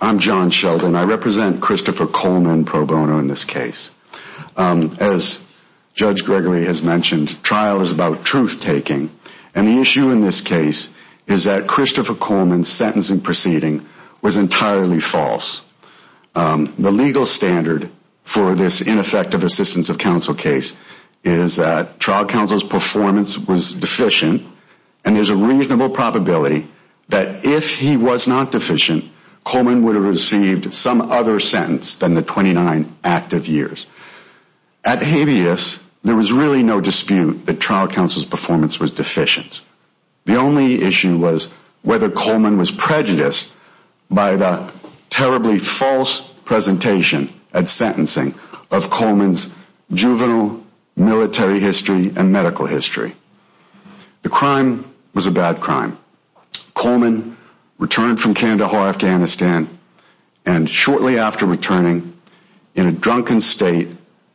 I'm John Sheldon. I represent Christopher Coleman pro bono in this case. As Judge Gregory has mentioned, trial is about truth-taking. And the issue in this case is that Christopher Coleman's sentencing proceeding was entirely false. The legal standard for this ineffective assistance of counsel case is that trial counsel's performance was deficient and there's a reasonable probability that if he was not deficient, Coleman would have received some other sentence than the 29 active years. At habeas, there was really no dispute that trial counsel's performance was deficient. The only issue was whether Coleman was prejudiced by the terribly false presentation at sentencing of Coleman's juvenile military history and medical history. The crime was a bad crime. Coleman returned from Kandahar, Afghanistan, and shortly after returning, in a drunken state,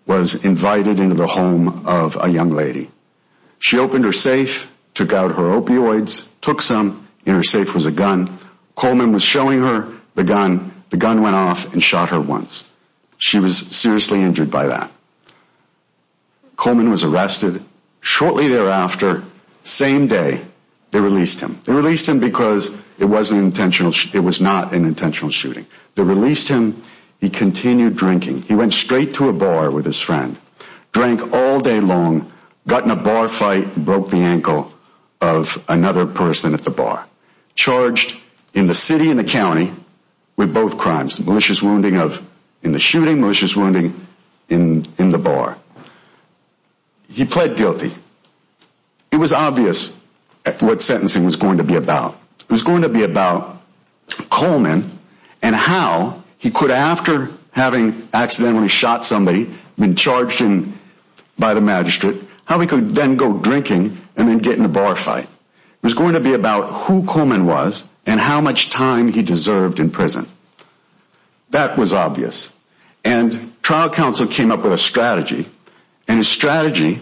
was invited into the home of a young lady. She opened her safe, took out her opioids, took some, in her safe was a gun. Coleman was showing her the gun. The gun went off and shot her once. She was seriously injured by that. Coleman was arrested. Shortly thereafter, same day, they released him. They released him because it was not an intentional shooting. They released him. He continued drinking. He went straight to a bar with his friend, drank all day long, got in a bar fight, broke the ankle of another person at the bar. Charged in the city and the county with both crimes. Malicious wounding in the shooting, malicious wounding in the bar. He pled guilty. It was obvious what sentencing was going to be about. It was going to be about Coleman and how he could, after having accidentally shot somebody, been charged by the magistrate, how he could then go drinking and then get in a bar fight. It was going to be about who Coleman was and how much time he deserved in prison. That was obvious. And trial counsel came up with a strategy. And his strategy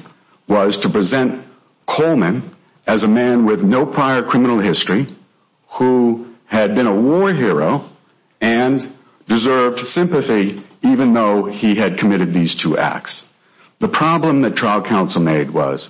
was to present Coleman as a man with no prior criminal history who had been a war hero and deserved sympathy even though he had committed these two acts. The problem that trial counsel made was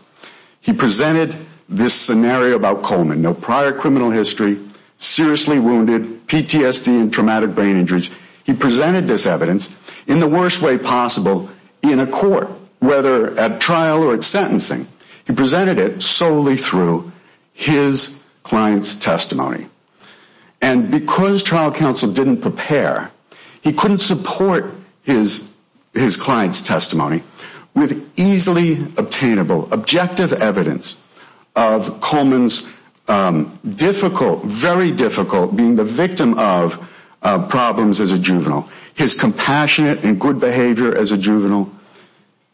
he presented this scenario about Coleman, no prior criminal history, seriously wounded, PTSD and traumatic brain injuries. He presented this evidence in the worst way possible in a court, whether at trial or at sentencing. He presented it solely through his client's testimony. And because trial counsel didn't prepare, he couldn't support his client's testimony with easily obtainable, objective evidence of Coleman's difficult, very difficult, being the victim of problems as a juvenile. His compassionate and good behavior as a juvenile,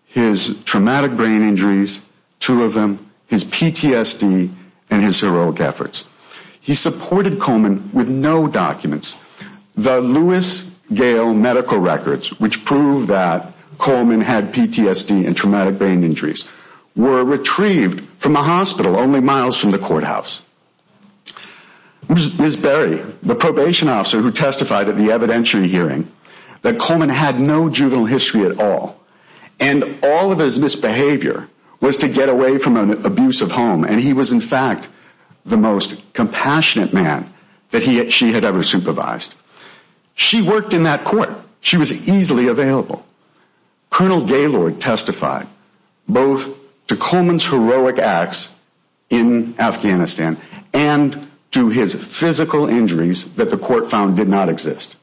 his traumatic brain injuries, two of them, his PTSD and his heroic efforts. He supported Coleman with no documents. The Lewis Gale medical records, which proved that Coleman had PTSD and traumatic brain injuries, were retrieved from a hospital only miles from the courthouse. Ms. Berry, the probation officer who testified at the evidentiary hearing, that Coleman had no juvenile history at all. And all of his misbehavior was to get away from an abusive home. And he was, in fact, the most compassionate man that she had ever supervised. She worked in that court. She was easily available. Colonel Gaylord testified both to Coleman's heroic acts in Afghanistan and to his physical injuries that the court found did not exist.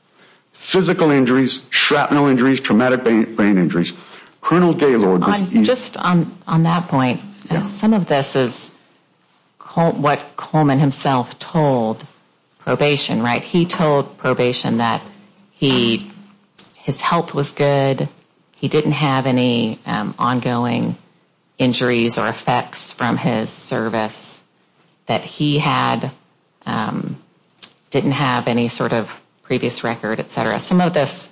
Physical injuries, shrapnel injuries, traumatic brain injuries. Colonel Gaylord. Just on that point, some of this is what Coleman himself told probation, right? He told probation that his health was good. He didn't have any ongoing injuries or effects from his service, that he didn't have any sort of previous record, et cetera. Some of this,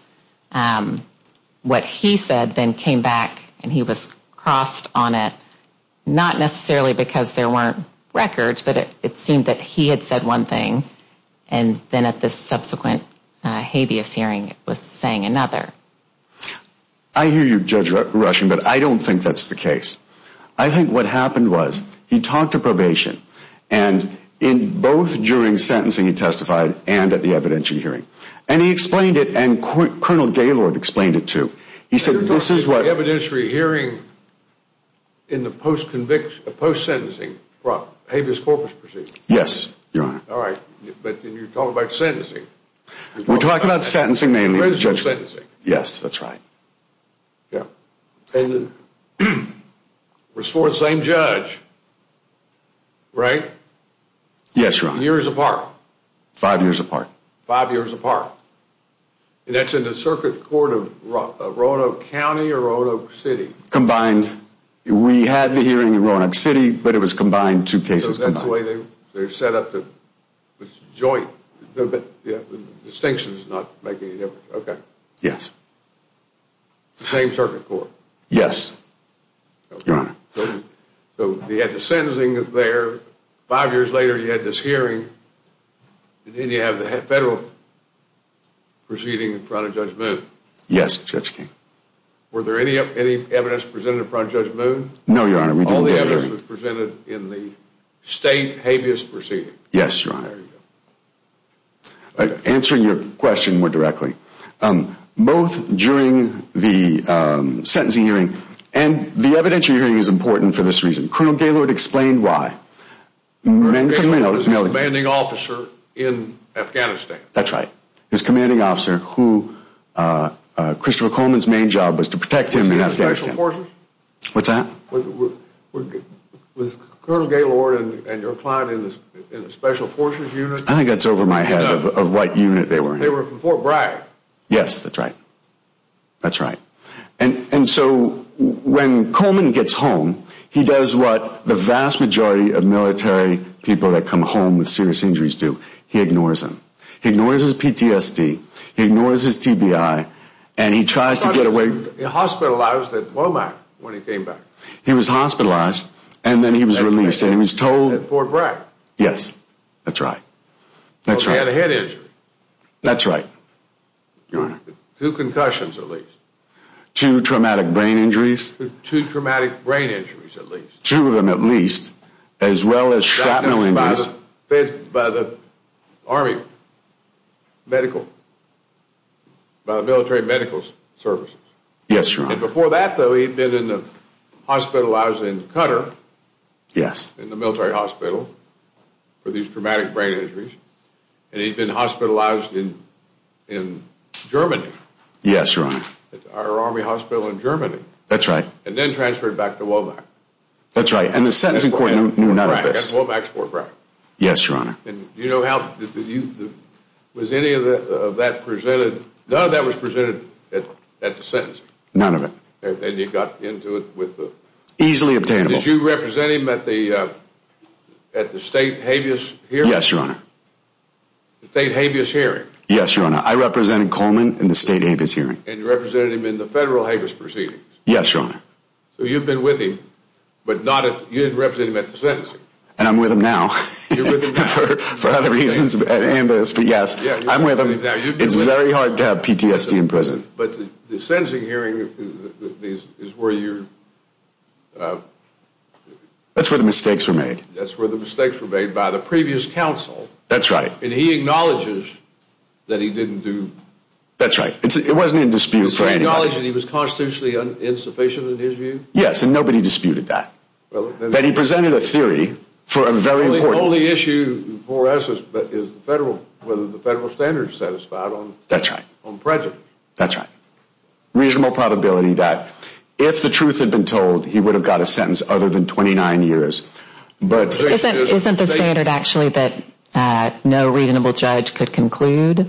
what he said, then came back and he was crossed on it. Not necessarily because there weren't records, but it seemed that he had said one thing and then at this subsequent habeas hearing was saying another. I hear you, Judge Rushing, but I don't think that's the case. I think what happened was he talked to probation and in both during sentencing he testified and at the evidentiary hearing. He explained it and Colonel Gaylord explained it too. You're talking about the evidentiary hearing in the post-sentencing habeas corpus proceedings? Yes, Your Honor. All right, but you're talking about sentencing. We're talking about sentencing mainly. Sentencing. Yes, that's right. And it was for the same judge, right? Yes, Your Honor. Years apart. Five years apart. Five years apart. And that's in the circuit court of Roanoke County or Roanoke City? Combined. We had the hearing in Roanoke City, but it was combined, two cases combined. So that's the way they set up the joint. The distinction is not making any difference. Yes. The same circuit court? Yes, Your Honor. So you had the sentencing there. Five years later you had this hearing and then you have the federal proceeding in front of Judge Moon. Yes, Judge King. Were there any evidence presented in front of Judge Moon? No, Your Honor. All the evidence was presented in the state habeas proceeding? Yes, Your Honor. Answering your question more directly. Both during the sentencing hearing and the evidentiary hearing is important for this reason. Colonel Gaylord explained why. Colonel Gaylord was a commanding officer in Afghanistan. That's right. His commanding officer who Christopher Coleman's main job was to protect him in Afghanistan. Special forces? What's that? Was Colonel Gaylord and your client in a special forces unit? I think that's over my head of what unit they were in. They were from Fort Bragg. Yes, that's right. That's right. And so when Coleman gets home, he does what the vast majority of military people that come home with serious injuries do. He ignores them. He ignores his PTSD. He ignores his TBI. And he tries to get away. He was hospitalized at Womack when he came back. He was hospitalized and then he was released. At Fort Bragg? Yes, that's right. He had a head injury. That's right, Your Honor. Two concussions, at least. Two traumatic brain injuries? Two traumatic brain injuries, at least. Two of them, at least, as well as shrapnel injuries. By the army medical, by the military medical services. Yes, Your Honor. And before that, though, he'd been in the hospital. I was in Qatar. Yes. In the military hospital for these traumatic brain injuries. And he'd been hospitalized in Germany. Yes, Your Honor. At our army hospital in Germany. That's right. And then transferred back to Womack. That's right. And the sentencing court knew none of this. At Womack's Fort Bragg. Yes, Your Honor. And do you know how, was any of that presented, none of that was presented at the sentencing? None of it. And you got into it with the... Easily obtainable. Did you represent him at the state habeas hearing? Yes, Your Honor. The state habeas hearing. Yes, Your Honor. I represented Coleman in the state habeas hearing. And you represented him in the federal habeas proceedings. Yes, Your Honor. So you've been with him, but you didn't represent him at the sentencing. And I'm with him now. You're with him now. For other reasons than this, but yes, I'm with him. It's very hard to have PTSD in prison. But the sentencing hearing is where you... That's where the mistakes were made. That's where the mistakes were made by the previous counsel. That's right. And he acknowledges that he didn't do... That's right. It wasn't in dispute for anybody. Does he acknowledge that he was constitutionally insufficient in his view? Yes, and nobody disputed that. That he presented a theory for a very important... The only issue for us is whether the federal standard is satisfied on prejudice. That's right. That's right. Reasonable probability that if the truth had been told, he would have got a sentence other than 29 years. But... Isn't the standard actually that no reasonable judge could conclude?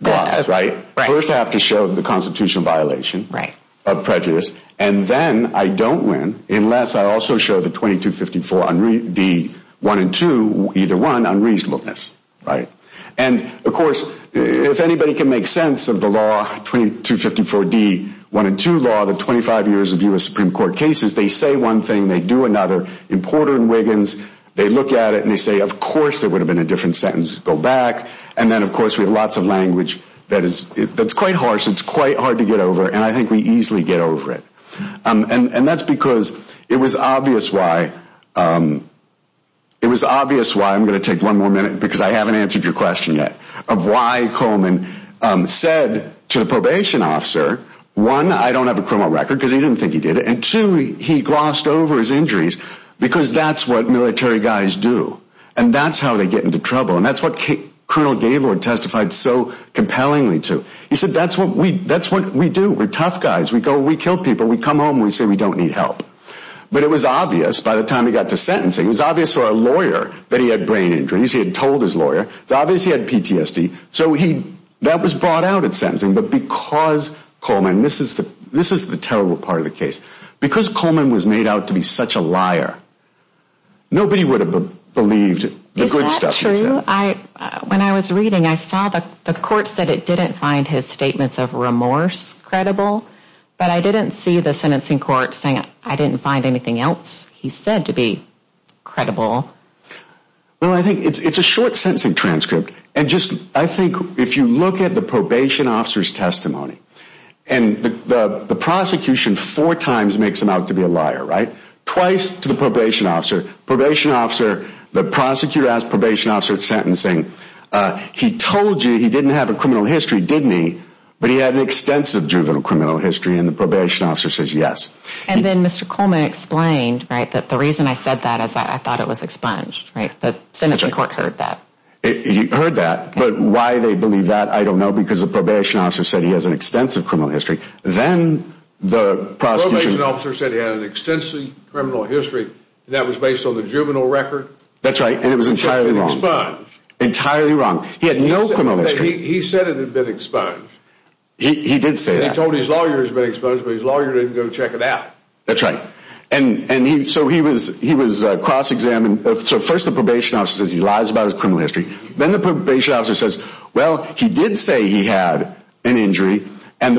Right. First I have to show the constitutional violation of prejudice. And then I don't win unless I also show the 2254 D1 and 2, either one, unreasonableness. And of course, if anybody can make sense of the law 2254 D1 and 2 law, the 25 years of U.S. Supreme Court cases, they say one thing, they do another. In Porter and Wiggins, they look at it and they say, of course there would have been a different sentence to go back. And then of course we have lots of language that's quite harsh, it's quite hard to get over, and I think we easily get over it. And that's because it was obvious why... It was obvious why, I'm going to take one more minute because I haven't answered your question yet, of why Coleman said to the probation officer, one, I don't have a criminal record because he didn't think he did it, and two, he glossed over his injuries because that's what military guys do. And that's how they get into trouble. And that's what Colonel Gaylord testified so compellingly to. He said, that's what we do, we're tough guys, we kill people, we come home and we say we don't need help. But it was obvious by the time he got to sentencing, it was obvious for a lawyer that he had brain injuries, he had told his lawyer, it was obvious he had PTSD, so that was brought out at sentencing. But because Coleman, this is the terrible part of the case, because Coleman was made out to be such a liar, nobody would have believed the good stuff he said. Is that true? When I was reading, I saw the court said it didn't find his statements of remorse credible, but I didn't see the sentencing court saying I didn't find anything else he said to be credible. Well, I think it's a short sentencing transcript. And just, I think if you look at the probation officer's testimony, and the prosecution four times makes him out to be a liar, right? Twice to the probation officer. Probation officer, the prosecutor asked probation officer at sentencing, he told you he didn't have a criminal history, didn't he? But he had an extensive juvenile criminal history, and the probation officer says yes. And then Mr. Coleman explained, right, that the reason I said that is that I thought it was expunged, right? The sentencing court heard that. He heard that, but why they believe that, I don't know, because the probation officer said he has an extensive criminal history. Then the prosecution... Probation officer said he had an extensive criminal history that was based on the juvenile record. That's right, and it was entirely wrong. Which had been expunged. Entirely wrong. He had no criminal history. He said it had been expunged. He did say that. He told his lawyers it had been expunged, but his lawyer didn't go check it out. That's right. So he was cross-examined. So first the probation officer says he lies about his criminal history. Then the probation officer says, well, he did say he had an injury, and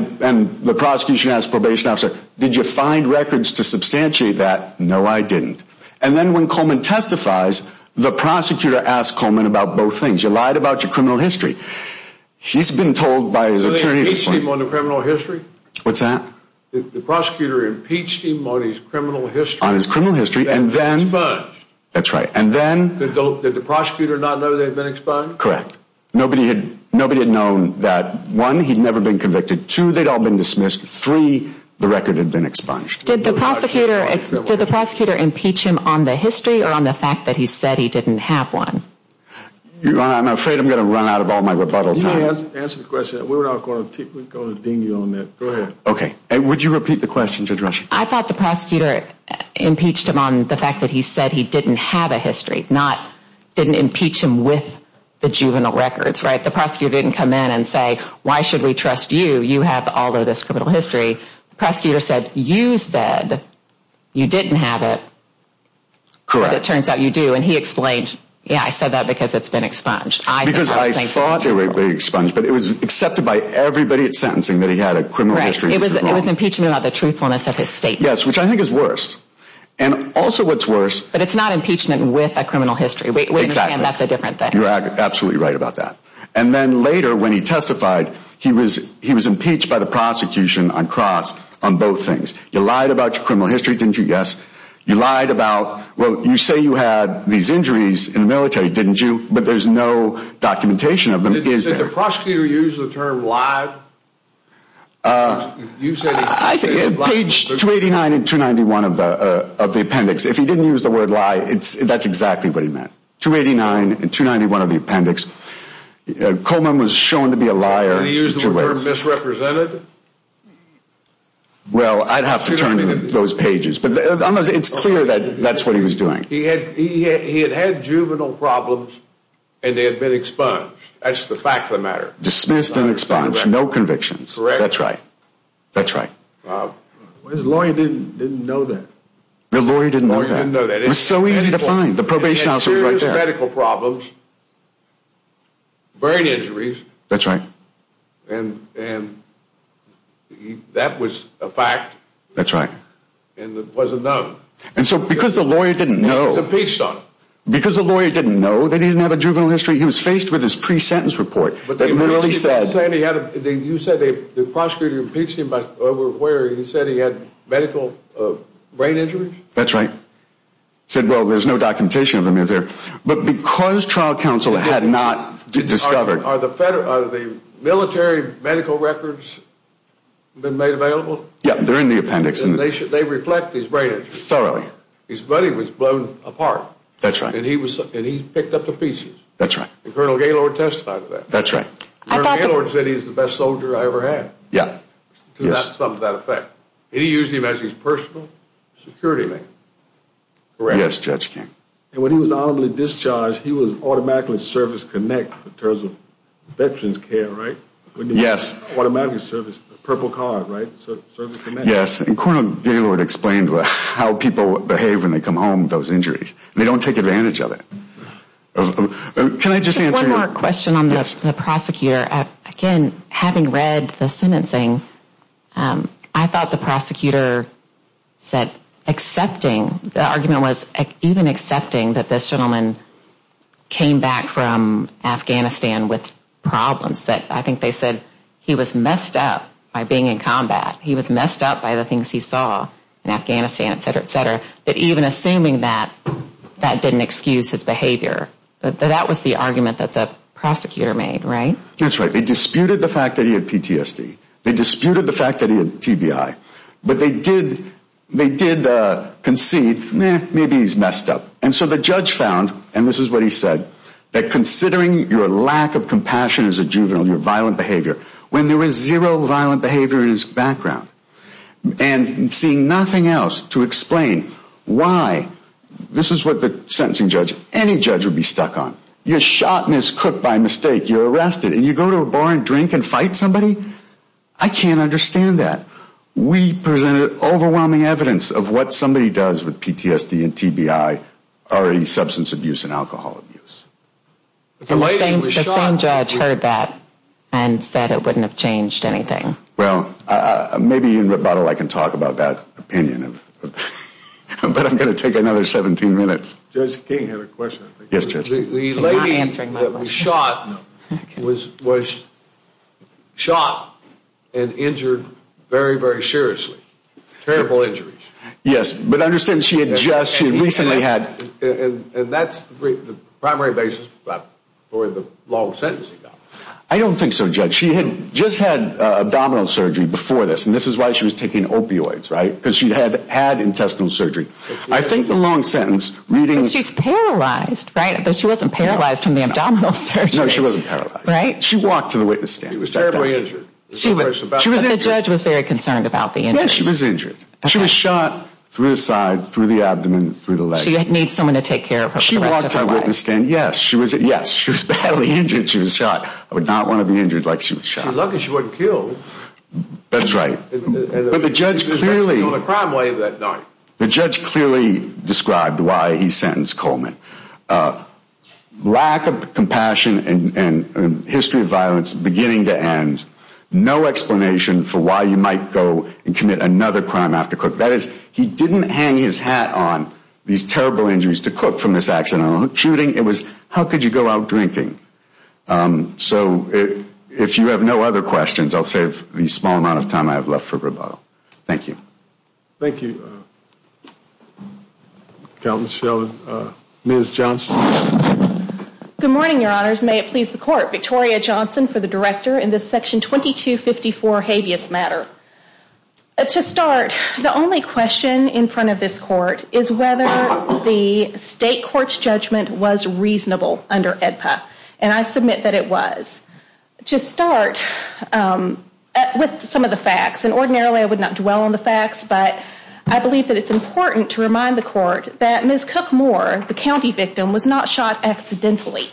the prosecution asked probation officer, did you find records to substantiate that? No, I didn't. And then when Coleman testifies, the prosecutor asked Coleman about both things. You lied about your criminal history. He's been told by his attorney... So they impeached him on the criminal history? What's that? The prosecutor impeached him on his criminal history. On his criminal history, and then... Expunged. That's right, and then... Did the prosecutor not know they had been expunged? Correct. Nobody had known that, one, he'd never been convicted. Two, they'd all been dismissed. Three, the record had been expunged. Did the prosecutor impeach him on the history or on the fact that he said he didn't have one? I'm afraid I'm going to run out of all my rebuttal time. Answer the question. We're not going to deem you on that. Go ahead. Okay. Would you repeat the question to address you? I thought the prosecutor impeached him on the fact that he said he didn't have a history, not didn't impeach him with the juvenile records, right? The prosecutor didn't come in and say, why should we trust you? You have all of this criminal history. The prosecutor said, you said you didn't have it. Correct. But it turns out you do, and he explained, yeah, I said that because it's been expunged. Because I thought it would be expunged, but it was accepted by everybody at sentencing that he had a criminal history. It was impeachment about the truthfulness of his statement. Yes, which I think is worse. And also what's worse. But it's not impeachment with a criminal history. We understand that's a different thing. You're absolutely right about that. And then later when he testified, he was impeached by the prosecution on cross on both things. You lied about your criminal history, didn't you? Yes. You lied about, well, you say you had these injuries in the military, didn't you? But there's no documentation of them, is there? Did the prosecutor use the term lie? Page 289 and 291 of the appendix. If he didn't use the word lie, that's exactly what he meant. 289 and 291 of the appendix. Coleman was shown to be a liar. Did he use the word misrepresented? Well, I'd have to turn to those pages. But it's clear that that's what he was doing. He had had juvenile problems, and they had been expunged. That's the fact of the matter. Dismissed and expunged. No convictions. Correct. That's right. That's right. His lawyer didn't know that. The lawyer didn't know that. It was so easy to find. The probation officer was right there. He had serious medical problems, brain injuries. That's right. And that was a fact. That's right. And it wasn't known. And so because the lawyer didn't know. He was impeached on it. Because the lawyer didn't know that he didn't have a juvenile history, he was faced with his pre-sentence report that literally said. You said the prosecutor impeached him over where he said he had medical brain injuries? That's right. He said, well, there's no documentation of them either. But because trial counsel had not discovered. Are the military medical records been made available? Yeah, they're in the appendix. And they reflect his brain injuries? Thoroughly. His body was blown apart. That's right. And he picked up the pieces. That's right. And Colonel Gaylord testified to that. That's right. Colonel Gaylord said he's the best soldier I ever had. Yeah. To that effect. And he used him as his personal security man. Correct? Yes, Judge King. And when he was honorably discharged, he was automatically service connect in terms of veterans care, right? Yes. Automatic service, the purple card, right? Service connect. Yes. And Colonel Gaylord explained how people behave when they come home with those injuries. They don't take advantage of it. Can I just answer? Just one more question on the prosecutor. Again, having read the sentencing, I thought the prosecutor said accepting. The argument was even accepting that this gentleman came back from Afghanistan with problems. I think they said he was messed up by being in combat. He was messed up by the things he saw in Afghanistan, et cetera, et cetera. But even assuming that, that didn't excuse his behavior. That was the argument that the prosecutor made, right? That's right. They disputed the fact that he had PTSD. They disputed the fact that he had TBI. But they did concede, maybe he's messed up. And so the judge found, and this is what he said, that considering your lack of compassion as a juvenile, your violent behavior, when there was zero violent behavior in his background, and seeing nothing else to explain why, this is what the sentencing judge, any judge would be stuck on, you're shot and is cooked by mistake, you're arrested, and you go to a bar and drink and fight somebody? I can't understand that. We presented overwhelming evidence of what somebody does with PTSD and TBI, already substance abuse and alcohol abuse. The same judge heard that and said it wouldn't have changed anything. Well, maybe in rebuttal I can talk about that opinion. But I'm going to take another 17 minutes. Judge King had a question. Yes, Judge King. The lady that was shot was shot and injured very, very seriously. Terrible injuries. Yes, but I understand she had just, she had recently had. And that's the primary basis for the long sentence he got. I don't think so, Judge. She had just had abdominal surgery before this, and this is why she was taking opioids, right? Because she had had intestinal surgery. I think the long sentence reading. She's paralyzed, right? But she wasn't paralyzed from the abdominal surgery. No, she wasn't paralyzed. Right? She walked to the witness stand. She was terribly injured. The judge was very concerned about the injuries. Yes, she was injured. She was shot through the side, through the abdomen, through the leg. She needs someone to take care of her for the rest of her life. She walked to the witness stand. Yes, she was badly injured. She was shot. I would not want to be injured like she was shot. She's lucky she wasn't killed. That's right. But the judge clearly. She was actually on the crime wave that night. The judge clearly described why he sentenced Coleman. Lack of compassion and history of violence beginning to end. No explanation for why you might go and commit another crime after Cook. That is, he didn't hang his hat on these terrible injuries to Cook from this accident. On the shooting, it was how could you go out drinking? So, if you have no other questions, I'll save the small amount of time I have left for rebuttal. Thank you. Thank you, Count and Ms. Johnson. Good morning, your honors. May it please the court. Victoria Johnson for the director in this section 2254 habeas matter. To start, the only question in front of this court is whether the state court's judgment was reasonable under EDPA. And I submit that it was. To start with some of the facts, and ordinarily I would not dwell on the facts, but I believe that it's important to remind the court that Ms. Cook Moore, the county victim, was not shot accidentally.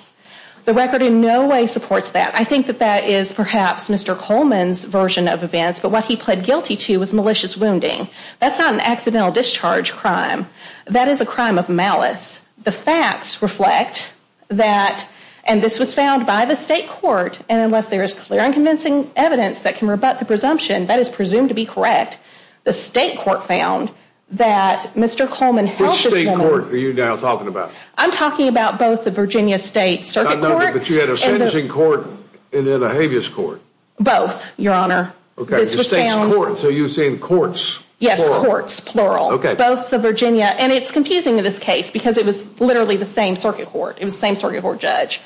The record in no way supports that. I think that that is perhaps Mr. Coleman's version of events, but what he pled guilty to was malicious wounding. That's not an accidental discharge crime. That is a crime of malice. The facts reflect that, and this was found by the state court, and unless there is clear and convincing evidence that can rebut the presumption, that is presumed to be correct. The state court found that Mr. Coleman helped this woman. Which state court are you now talking about? I'm talking about both the Virginia State Circuit Court. But you had a sentencing court and then a habeas court. Both, Your Honor. Okay. The state's court. So you're saying courts. Yes, courts, plural. Okay. Both the Virginia, and it's confusing in this case because it was literally the same circuit court. It was the same circuit court judge.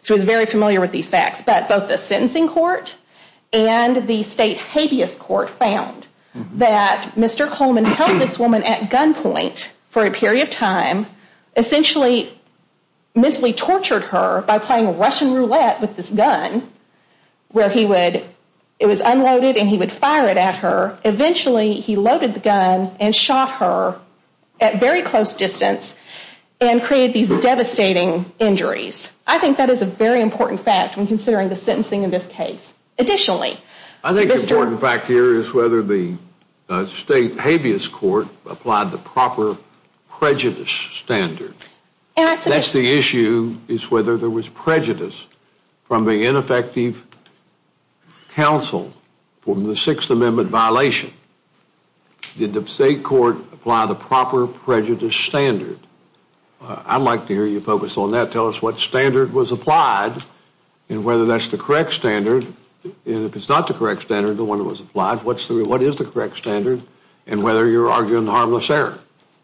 So he's very familiar with these facts, but both the sentencing court and the state habeas court found that Mr. Coleman held this woman at gunpoint for a period of time, essentially mentally tortured her by playing Russian roulette with this gun where he would, it was unloaded and he would fire it at her. Eventually he loaded the gun and shot her at very close distance and created these devastating injuries. I think that is a very important fact when considering the sentencing in this case. Additionally, Mr. The important fact here is whether the state habeas court applied the proper prejudice standard. That's the issue is whether there was prejudice from the ineffective counsel from the Sixth Amendment violation. Did the state court apply the proper prejudice standard? I'd like to hear you focus on that. Tell us what standard was applied and whether that's the correct standard. If it's not the correct standard, the one that was applied, what is the correct standard and whether you're arguing harmless error.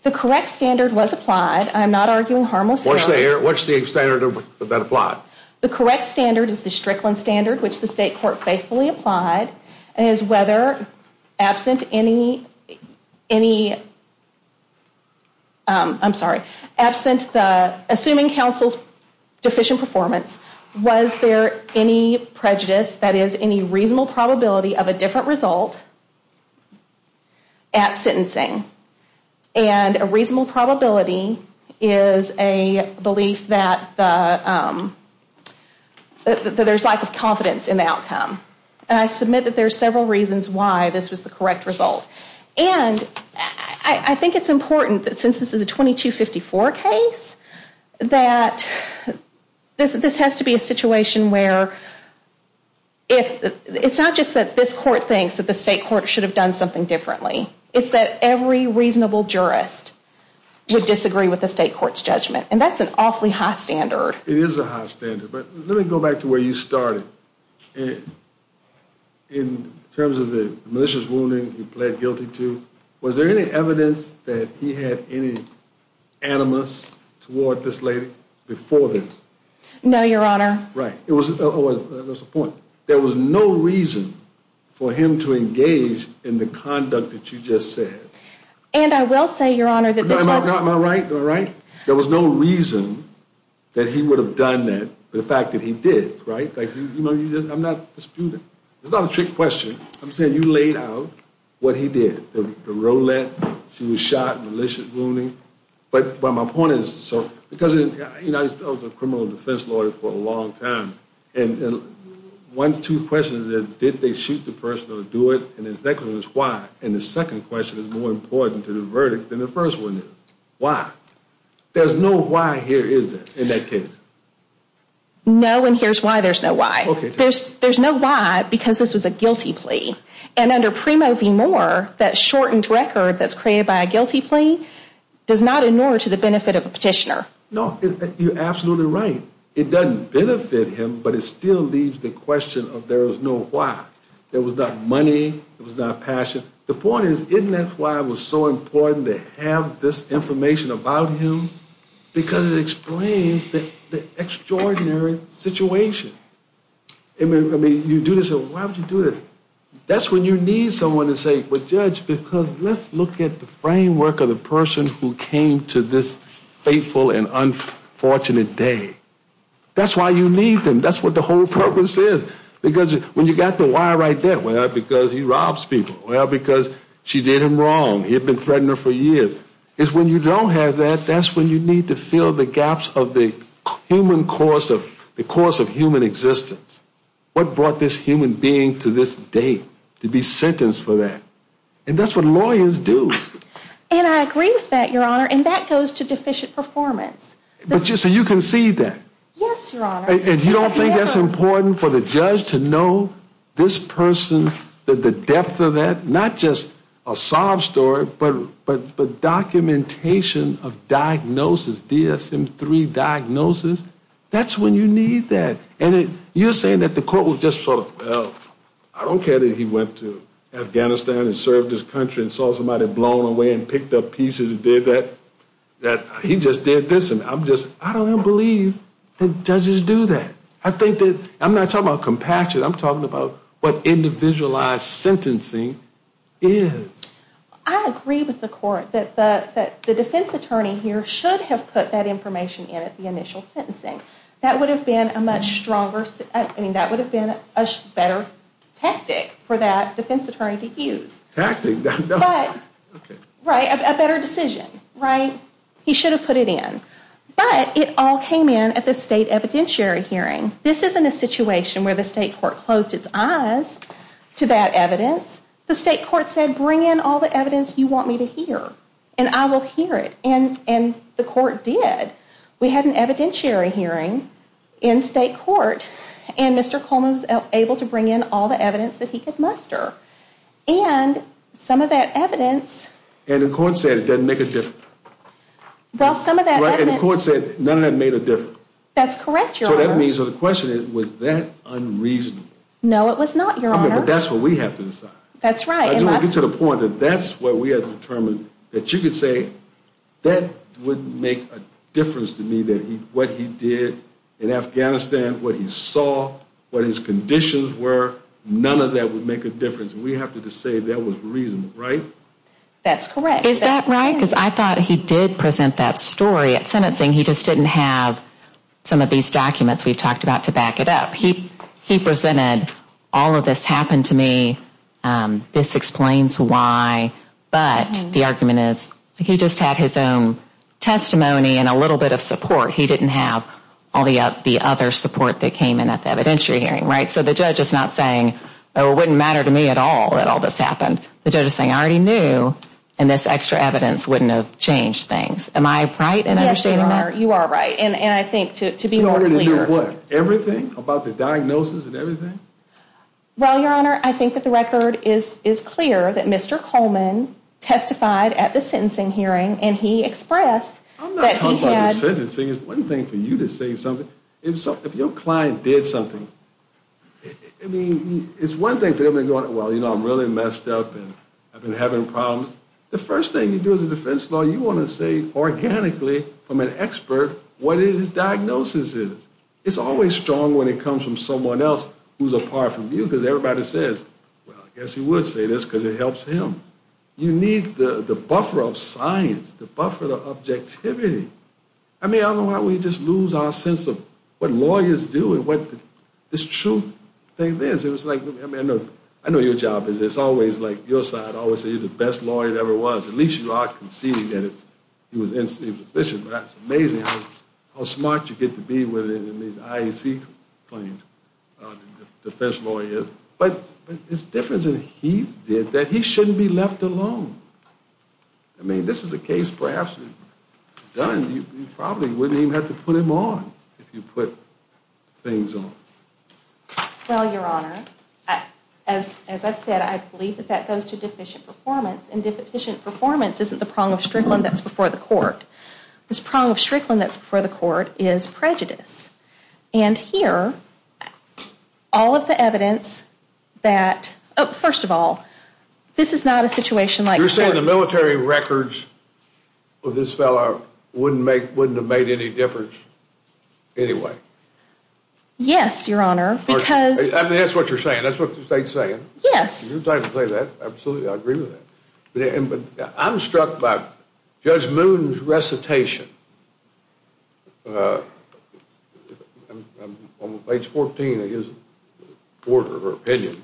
The correct standard was applied. I'm not arguing harmless error. What's the standard that applied? The correct standard is the Strickland standard, which the state court faithfully applied. It is whether, absent any, I'm sorry, absent the, assuming counsel's deficient performance, was there any prejudice, that is any reasonable probability of a different result at sentencing. And a reasonable probability is a belief that there's lack of confidence in the outcome. And I submit that there's several reasons why this was the correct result. And I think it's important that since this is a 2254 case, that this has to be a situation where it's not just that this court thinks that the state court should have done something differently. It's that every reasonable jurist would disagree with the state court's judgment. And that's an awfully high standard. It is a high standard, but let me go back to where you started. In terms of the malicious wounding he pled guilty to, was there any evidence that he had any animus toward this lady before this? No, Your Honor. Right. That was the point. There was no reason for him to engage in the conduct that you just said. And I will say, Your Honor, that this was... Am I right? Am I right? There was no reason that he would have done that for the fact that he did, right? I'm not disputing. It's not a trick question. I'm saying you laid out what he did. The roulette, she was shot, malicious wounding. But my point is, because I was a criminal defense lawyer for a long time, and one, two questions is, did they shoot the person or do it? And the second is, why? And the second question is more important to the verdict than the first one is. Why? There's no why here, is there, in that case? No, and here's why there's no why. There's no why because this was a guilty plea. And under Primo v. Moore, that shortened record that's created by a guilty plea does not ignore to the benefit of a petitioner. No, you're absolutely right. It doesn't benefit him, but it still leaves the question of there was no why. There was not money, there was not passion. The point is, isn't that why it was so important to have this information about him? Because it explains the extraordinary situation. I mean, you do this, why would you do this? That's when you need someone to say, but Judge, because let's look at the framework of the person who came to this fateful and unfortunate day. That's why you need them. That's what the whole purpose is. Because when you got the why right there, well, because he robs people. Well, because she did him wrong. He had been threatening her for years. It's when you don't have that, that's when you need to fill the gaps of the human course of human existence. What brought this human being to this day to be sentenced for that? And that's what lawyers do. And I agree with that, Your Honor, and that goes to deficient performance. So you can see that. Yes, Your Honor. And you don't think that's important for the judge to know this person, that the depth of that, not just a sob story, but documentation of diagnosis, DSM-3 diagnosis, that's when you need that. And you're saying that the court will just sort of, well, I don't care that he went to Afghanistan and served his country and saw somebody blown away and picked up pieces and did that, that he just did this. I don't believe that judges do that. I'm not talking about compassion. I'm talking about what individualized sentencing is. I agree with the court that the defense attorney here should have put that information in at the initial sentencing. That would have been a much stronger, I mean that would have been a better tactic for that defense attorney to use. Tactic? Right, a better decision, right? He should have put it in. But it all came in at the state evidentiary hearing. This isn't a situation where the state court closed its eyes to that evidence. The state court said, bring in all the evidence you want me to hear, and I will hear it. And the court did. We had an evidentiary hearing in state court, and Mr. Coleman was able to bring in all the evidence that he could muster. And some of that evidence. And the court said it doesn't make a difference. Well, some of that evidence. The court said none of that made a difference. That's correct, Your Honor. So that means, so the question is, was that unreasonable? No, it was not, Your Honor. Okay, but that's what we have to decide. That's right. I just want to get to the point that that's what we have to determine, that you could say that wouldn't make a difference to me, that what he did in Afghanistan, what he saw, what his conditions were, none of that would make a difference. We have to just say that was reasonable, right? That's correct. Is that right? Because I thought he did present that story at sentencing. He just didn't have some of these documents we've talked about to back it up. He presented all of this happened to me, this explains why, but the argument is he just had his own testimony and a little bit of support. He didn't have all the other support that came in at the evidentiary hearing, right? So the judge is not saying, oh, it wouldn't matter to me at all that all this happened. The judge is saying, I already knew, and this extra evidence wouldn't have changed things. Am I right in understanding that? Yes, you are. You are right. And I think to be more clear. You already knew what? Everything about the diagnosis and everything? Well, Your Honor, I think that the record is clear that Mr. Coleman testified at the sentencing hearing and he expressed that he had. I'm not talking about the sentencing. It's one thing for you to say something. If your client did something, I mean, it's one thing for them to go, well, you know, I'm really messed up and I've been having problems. The first thing you do as a defense lawyer, you want to say organically from an expert what his diagnosis is. It's always strong when it comes from someone else who's apart from you because everybody says, well, I guess he would say this because it helps him. You need the buffer of science, the buffer of objectivity. I mean, I don't know why we just lose our sense of what lawyers do and what this true thing is. I know your job is it's always like your side always says you're the best lawyer there ever was. At least you are conceding that he was efficient. But that's amazing how smart you get to be with it in these IAC claims, defense lawyers. But it's different than he did that he shouldn't be left alone. I mean, this is a case perhaps if done, you probably wouldn't even have to put him on if you put things on. Well, Your Honor, as I've said, I believe that that goes to deficient performance. And deficient performance isn't the prong of Strickland that's before the court. The prong of Strickland that's before the court is prejudice. And here, all of the evidence that, first of all, this is not a situation like. You're saying the military records of this fellow wouldn't have made any difference anyway? Yes, Your Honor, because. I mean, that's what you're saying. That's what the state's saying. Yes. You're trying to play that. Absolutely. I agree with that. But I'm struck by Judge Moon's recitation on page 14 of his order of opinion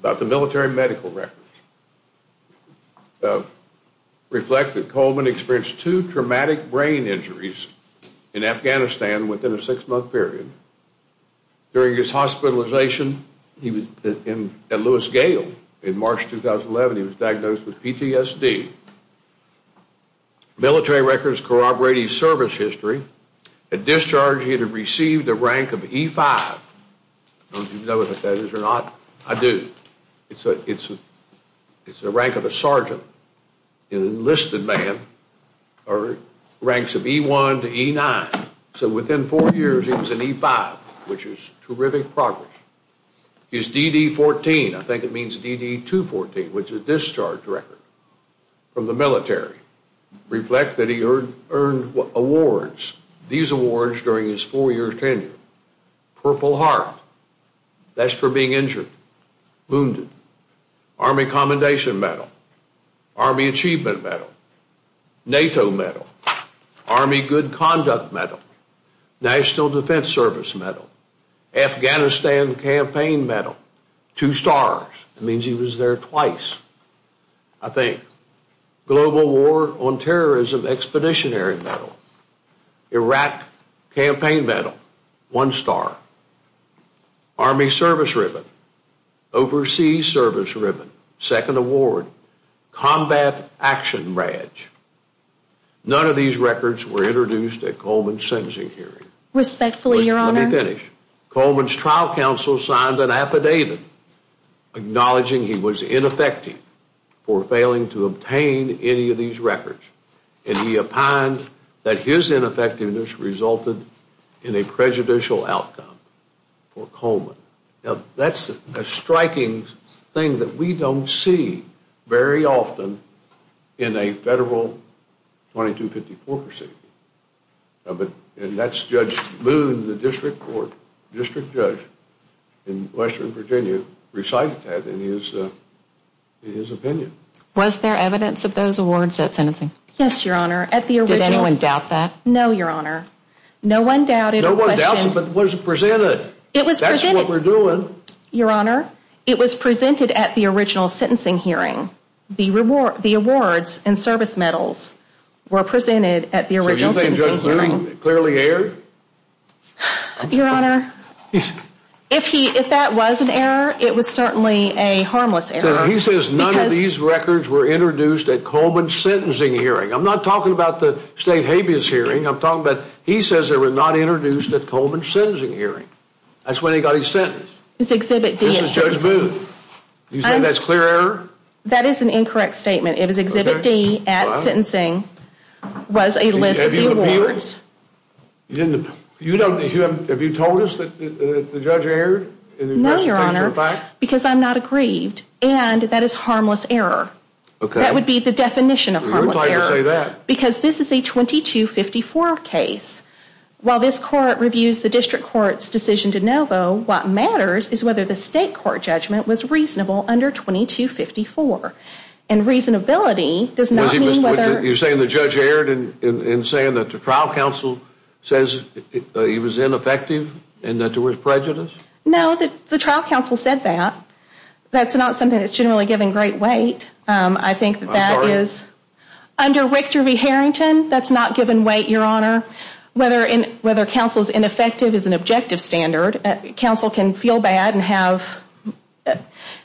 about the military medical records. Reflect that Coleman experienced two traumatic brain injuries in Afghanistan within a six-month period. During his hospitalization at Lewis Gale in March 2011, he was diagnosed with PTSD. Military records corroborate his service history. At discharge, he had received a rank of E5. Do you know what that is or not? I do. It's a rank of a sergeant. An enlisted man ranks of E1 to E9. So within four years, he was an E5, which is terrific progress. His DD-14, I think it means DD-214, which is a discharge record from the military, reflect that he earned awards, these awards during his four-year tenure. Purple Heart. That's for being injured, wounded. Army Commendation Medal. Army Achievement Medal. NATO Medal. Army Good Conduct Medal. National Defense Service Medal. Afghanistan Campaign Medal. Two stars. It means he was there twice, I think. Global War on Terrorism Expeditionary Medal. Iraq Campaign Medal. One star. Army Service Ribbon. Overseas Service Ribbon. Second award. Combat Action Badge. None of these records were introduced at Coleman's sentencing hearing. Respectfully, Your Honor. Let me finish. Coleman's trial counsel signed an affidavit acknowledging he was ineffective for failing to obtain any of these records, and he opined that his ineffectiveness resulted in a prejudicial outcome for Coleman. Now, that's a striking thing that we don't see very often in a federal 2254 proceeding, and that's Judge Moon, the district court, district judge in Western Virginia, recited that in his opinion. Was there evidence of those awards at sentencing? Yes, Your Honor. Did anyone doubt that? No, Your Honor. No one doubted. No one doubted, but it wasn't presented. It was presented. That's what we're doing. Your Honor, it was presented at the original sentencing hearing. The awards and service medals were presented at the original sentencing hearing. So you think Judge Moon clearly erred? Your Honor, if that was an error, it was certainly a harmless error. He says none of these records were introduced at Coleman's sentencing hearing. I'm not talking about the state habeas hearing. I'm talking about he says they were not introduced at Coleman's sentencing hearing. That's when he got his sentence. This is Judge Moon. You say that's clear error? That is an incorrect statement. It is Exhibit D at sentencing was a list of the awards. Have you told us that the judge erred? No, Your Honor, because I'm not aggrieved. And that is harmless error. Okay. That would be the definition of harmless error. Who told you to say that? Because this is a 2254 case. While this court reviews the district court's decision de novo, what matters is whether the state court judgment was reasonable under 2254. And reasonability does not mean whether... You're saying the judge erred in saying that the trial counsel says he was ineffective and that there was prejudice? No, the trial counsel said that. That's not something that's generally given great weight. I think that that is... I'm sorry? Under Richter v. Harrington, that's not given weight, Your Honor. Whether counsel is ineffective is an objective standard. Counsel can feel bad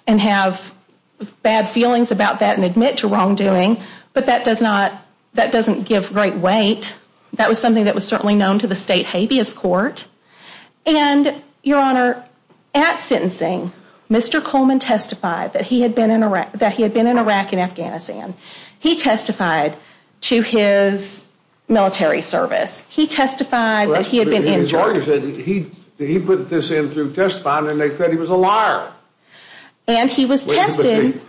and have bad feelings about that and admit to wrongdoing, but that doesn't give great weight. That was something that was certainly known to the state habeas court. And, Your Honor, at sentencing, Mr. Coleman testified that he had been in Iraq and Afghanistan. He testified to his military service. He testified that he had been injured. He put this in through testifying and they said he was a liar. And he was tested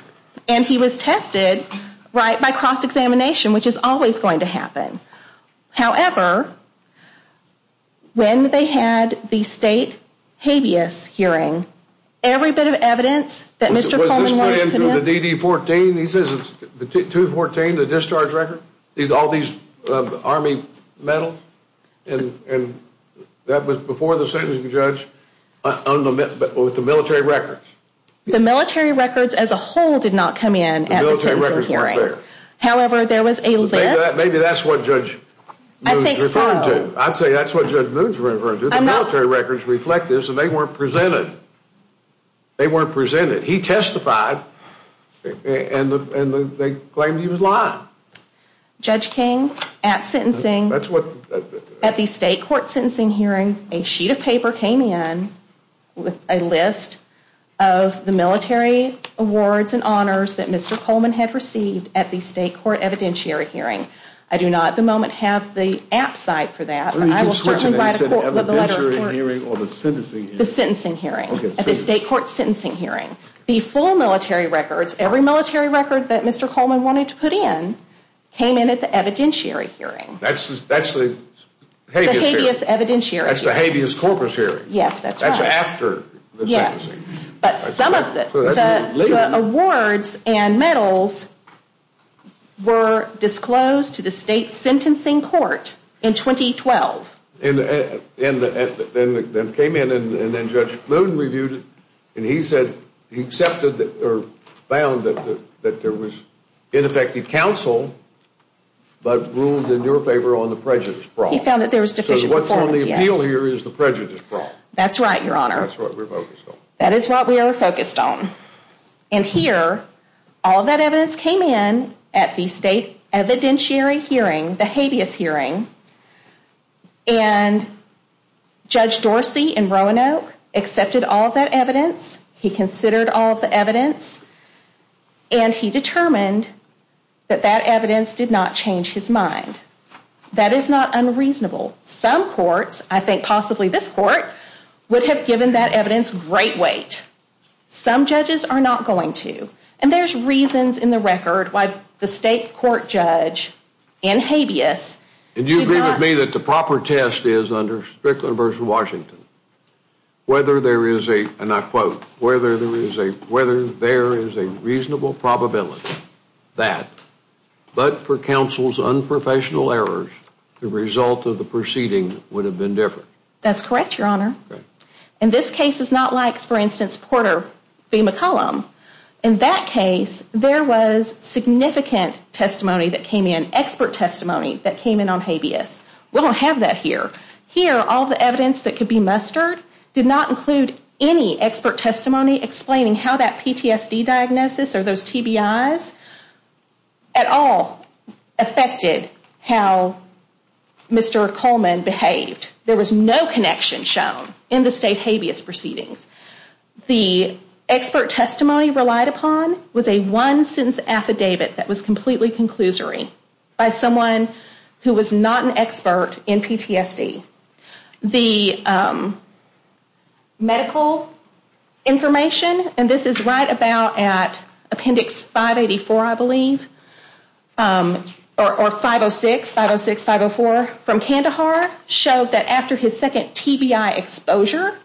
by cross-examination, which is always going to happen. However, when they had the state habeas hearing, every bit of evidence that Mr. Coleman wanted to come in... Was this put into the DD-14? He says it's the DD-14, the discharge record? All these Army medals? And that was before the sentencing judge with the military records? The military records as a whole did not come in at the sentencing hearing. The military records weren't there. However, there was a list... Maybe that's what Judge Moon's referring to. I'd say that's what Judge Moon's referring to. The military records reflect this and they weren't presented. They weren't presented. He testified and they claimed he was lying. Judge King, at sentencing... That's what... At the state court sentencing hearing, a sheet of paper came in with a list of the military awards and honors that Mr. Coleman had received at the state court evidentiary hearing. I do not at the moment have the app site for that. I will certainly write a court letter for it. You said evidentiary hearing or the sentencing hearing? The sentencing hearing. Okay. At the state court sentencing hearing. The full military records, every military record that Mr. Coleman wanted to put in, came in at the evidentiary hearing. That's the habeas hearing. The habeas evidentiary hearing. That's the habeas corpus hearing. Yes, that's right. That's after the sentencing. Yes. But some of the awards and medals were disclosed to the state sentencing court in 2012. And then came in and then Judge Kluge reviewed it and he said, he accepted or found that there was ineffective counsel but ruled in your favor on the prejudice problem. He found that there was deficient performance, yes. So what's on the appeal here is the prejudice problem. That's right, Your Honor. That's what we're focused on. That is what we are focused on. And here, all that evidence came in at the state evidentiary hearing, the habeas hearing, and Judge Dorsey in Roanoke accepted all of that evidence. He considered all of the evidence. And he determined that that evidence did not change his mind. That is not unreasonable. Some courts, I think possibly this court, would have given that evidence great weight. Some judges are not going to. And there's reasons in the record why the state court judge in habeas. And you agree with me that the proper test is under Strickland v. Washington, whether there is a, and I quote, whether there is a reasonable probability that, but for counsel's unprofessional errors, the result of the proceeding would have been different. That's correct, Your Honor. And this case is not like, for instance, Porter v. McCollum. In that case, there was significant testimony that came in, expert testimony that came in on habeas. We don't have that here. Here, all the evidence that could be mustered did not include any expert testimony explaining how that PTSD diagnosis or those TBIs at all affected how Mr. Coleman behaved. There was no connection shown in the state habeas proceedings. The expert testimony relied upon was a one-sentence affidavit that was completely conclusory by someone who was not an expert in PTSD. The medical information, and this is right about at appendix 584, I believe, or 506, 506, 504 from Kandahar, showed that after his second TBI exposure,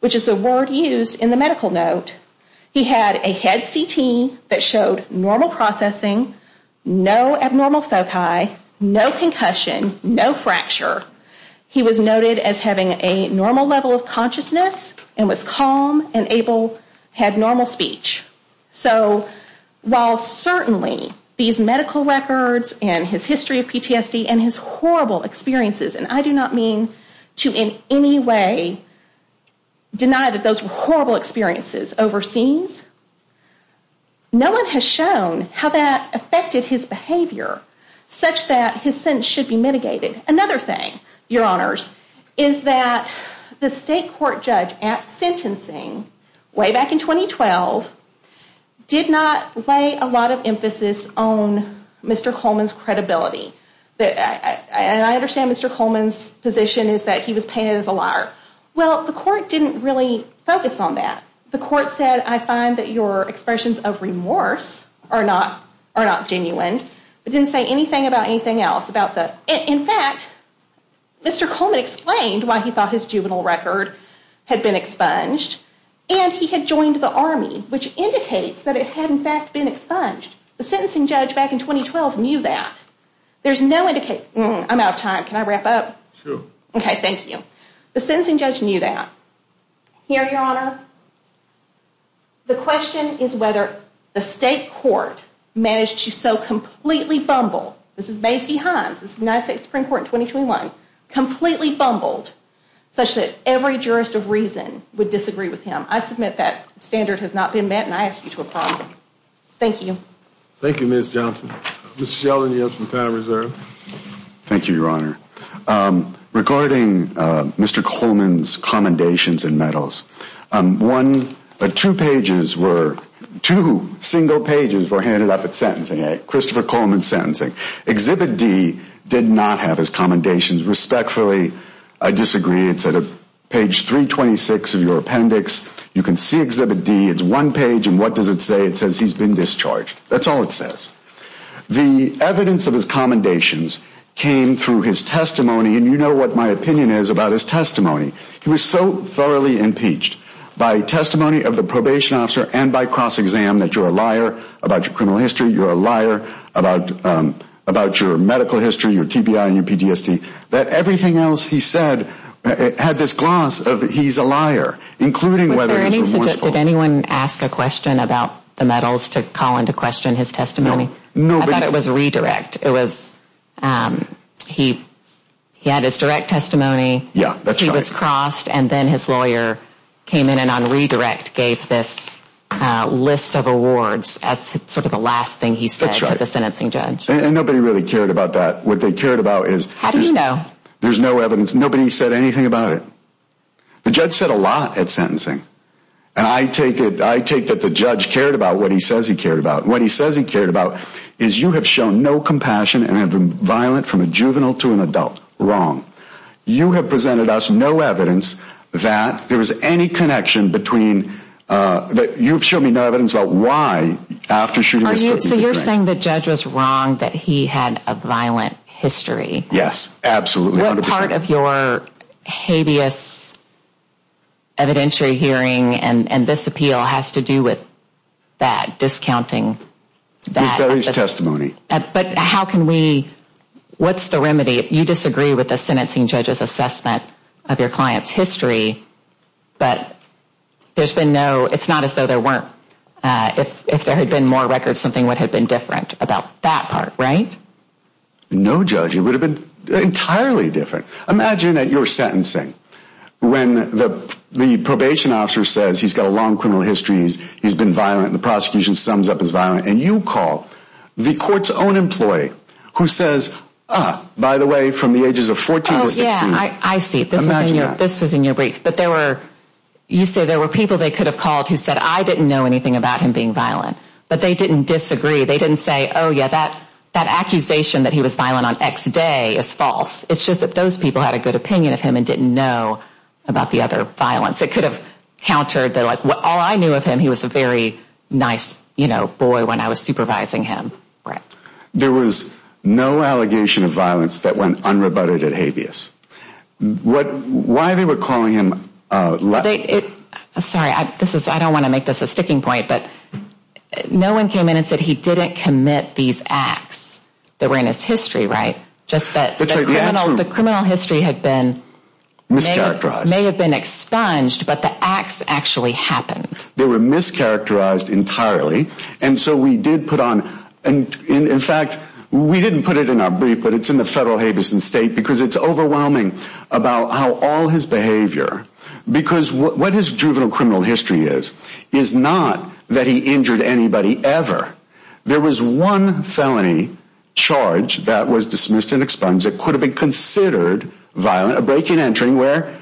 which is the word used in the medical note, he had a head CT that showed normal processing, no abnormal foci, no concussion, no fracture. He was noted as having a normal level of consciousness and was calm and able, had normal speech. So while certainly these medical records and his history of PTSD and his horrible experiences, and I do not mean to in any way deny that those were horrible experiences overseas, no one has shown how that affected his behavior such that his sentence should be mitigated. Another thing, your honors, is that the state court judge at sentencing way back in 2012 did not lay a lot of emphasis on Mr. Coleman's credibility. And I understand Mr. Coleman's position is that he was painted as a liar. Well, the court didn't really focus on that. The court said, I find that your expressions of remorse are not genuine. It didn't say anything about anything else. In fact, Mr. Coleman explained why he thought his juvenile record had been expunged, and he had joined the Army, which indicates that it had in fact been expunged. The sentencing judge back in 2012 knew that. There's no indication. I'm out of time. Can I wrap up? Sure. Okay, thank you. The sentencing judge knew that. Here, your honor, the question is whether the state court managed to so completely fumble, this is Mays v. Hines, this is the United States Supreme Court in 2021, completely fumbled such that every jurist of reason would disagree with him. I submit that standard has not been met, and I ask you to approve. Thank you. Thank you, Ms. Johnson. Mr. Sheldon, you have some time reserved. Thank you, your honor. Regarding Mr. Coleman's commendations and medals, two single pages were handed up at sentencing, Christopher Coleman's sentencing. Exhibit D did not have his commendations. Respectfully, I disagree. It's at page 326 of your appendix. You can see Exhibit D. It's one page, and what does it say? It says he's been discharged. That's all it says. The evidence of his commendations came through his testimony, and you know what my opinion is about his testimony. He was so thoroughly impeached by testimony of the probation officer and by cross-exam that you're a liar about your criminal history, you're a liar about your medical history, your TBI and your PTSD, that everything else he said had this gloss of he's a liar, including whether he's remorseful. Did anyone ask a question about the medals to call into question his testimony? No. I thought it was redirect. It was he had his direct testimony. Yeah, that's right. He was crossed, and then his lawyer came in and on redirect gave this list of awards as sort of the last thing he said to the sentencing judge. That's right, and nobody really cared about that. What they cared about is there's no evidence. Nobody said anything about it. The judge said a lot at sentencing, and I take that the judge cared about what he says he cared about. What he says he cared about is you have shown no compassion and have been violent from a juvenile to an adult. Wrong. You have presented us no evidence that there was any connection between that you've shown me no evidence about why after shooting was put me to death. So you're saying the judge was wrong that he had a violent history. Yes, absolutely. What part of your habeas evidentiary hearing and this appeal has to do with that, discounting that? It varies testimony. But how can we, what's the remedy? You disagree with the sentencing judge's assessment of your client's history, but there's been no, it's not as though there weren't. If there had been more records, something would have been different about that part, right? No judge. It would have been entirely different. Imagine that you're sentencing when the probation officer says he's got a long criminal history, he's been violent, and the prosecution sums up as violent, and you call the court's own employee who says, by the way, from the ages of 14 to 16. Oh, yeah, I see. This was in your brief. But there were, you said there were people they could have called who said, I didn't know anything about him being violent, but they didn't disagree. They didn't say, oh, yeah, that accusation that he was violent on X day is false. It's just that those people had a good opinion of him and didn't know about the other violence. It could have countered that, like, all I knew of him, he was a very nice, you know, boy when I was supervising him. There was no allegation of violence that went unrebutted at habeas. Why they were calling him? Sorry, I don't want to make this a sticking point, but no one came in and said he didn't commit these acts that were in his history, right? Just that the criminal history had been mischaracterized. May have been expunged, but the acts actually happened. They were mischaracterized entirely, and so we did put on, in fact, we didn't put it in our brief, but it's in the federal habeas instate because it's overwhelming about how all his behavior, because what his juvenile criminal history is, is not that he injured anybody ever. There was one felony charge that was dismissed and expunged that could have been considered violent, a break-in entering where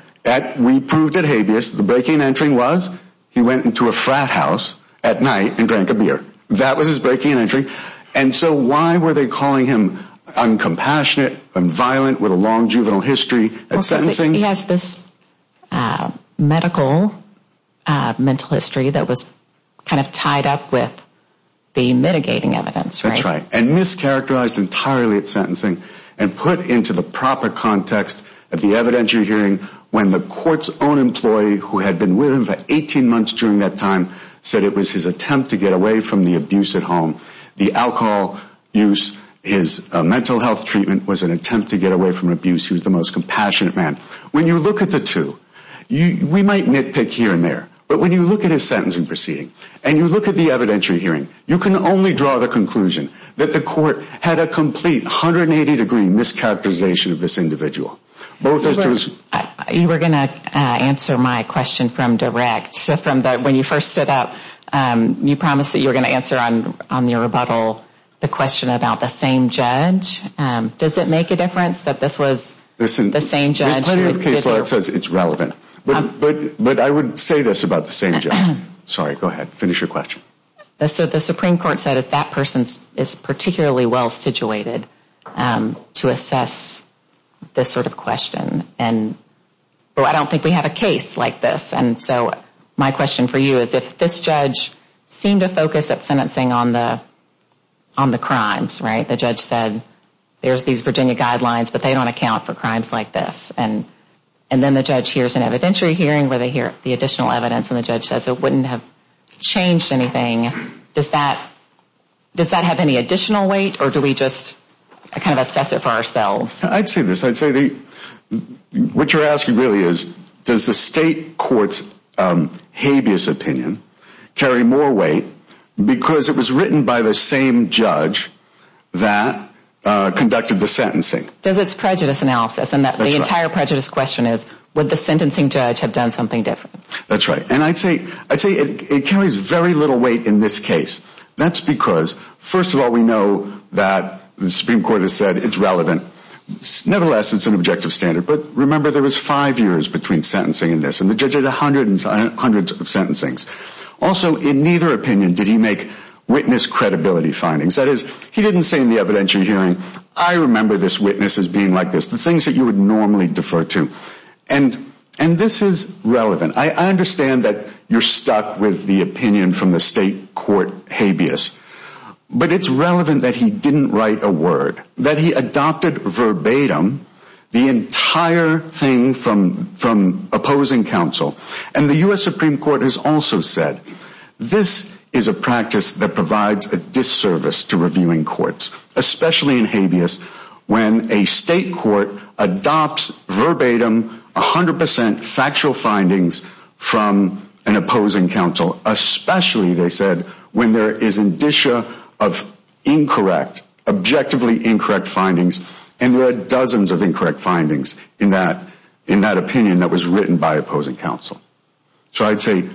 we proved at habeas, the break-in entering was he went into a frat house at night and drank a beer. That was his break-in entering. And so why were they calling him uncompassionate and violent with a long juvenile history at sentencing? He has this medical mental history that was kind of tied up with the mitigating evidence, right? That's right, and mischaracterized entirely at sentencing and put into the proper context of the evidence you're hearing when the court's own employee who had been with him for 18 months during that time said it was his attempt to get away from the abuse at home. The alcohol use, his mental health treatment was an attempt to get away from abuse. He was the most compassionate man. When you look at the two, we might nitpick here and there, but when you look at his sentencing proceeding and you look at the evidentiary hearing, you can only draw the conclusion that the court had a complete 180-degree mischaracterization of this individual. You were going to answer my question from direct. When you first stood up, you promised that you were going to answer on your rebuttal the question about the same judge. Does it make a difference that this was the same judge? There's plenty of case law that says it's relevant. But I would say this about the same judge. Sorry, go ahead. Finish your question. The Supreme Court said that that person is particularly well-situated to assess this sort of question. I don't think we have a case like this, and so my question for you is if this judge seemed to focus at sentencing on the crimes, the judge said there's these Virginia guidelines, but they don't account for crimes like this, and then the judge hears an evidentiary hearing where they hear the additional evidence and the judge says it wouldn't have changed anything, does that have any additional weight or do we just kind of assess it for ourselves? I'd say this. What you're asking really is does the state court's habeas opinion carry more weight because it was written by the same judge that conducted the sentencing? There's its prejudice analysis, and the entire prejudice question is would the sentencing judge have done something different? That's right, and I'd say it carries very little weight in this case. That's because, first of all, we know that the Supreme Court has said it's relevant. Nevertheless, it's an objective standard. But remember there was five years between sentencing and this, and the judge did hundreds and hundreds of sentencings. Also, in neither opinion did he make witness credibility findings. That is, he didn't say in the evidentiary hearing, I remember this witness as being like this, the things that you would normally defer to. And this is relevant. I understand that you're stuck with the opinion from the state court habeas, but it's relevant that he didn't write a word, that he adopted verbatim the entire thing from opposing counsel, and the U.S. Supreme Court has also said, this is a practice that provides a disservice to reviewing courts, especially in habeas when a state court adopts verbatim 100% factual findings from an opposing counsel, especially, they said, when there is indicia of incorrect, objectively incorrect findings, and there are dozens of incorrect findings in that opinion that was written by opposing counsel. So I'd say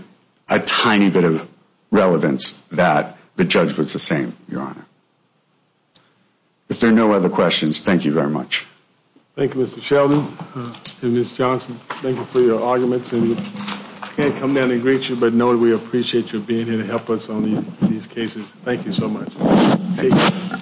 a tiny bit of relevance that the judge was the same, Your Honor. If there are no other questions, thank you very much. Thank you, Mr. Sheldon and Ms. Johnson. Thank you for your arguments, and we can't come down and greet you, but know that we appreciate you being here to help us on these cases. Thank you so much. Thank you.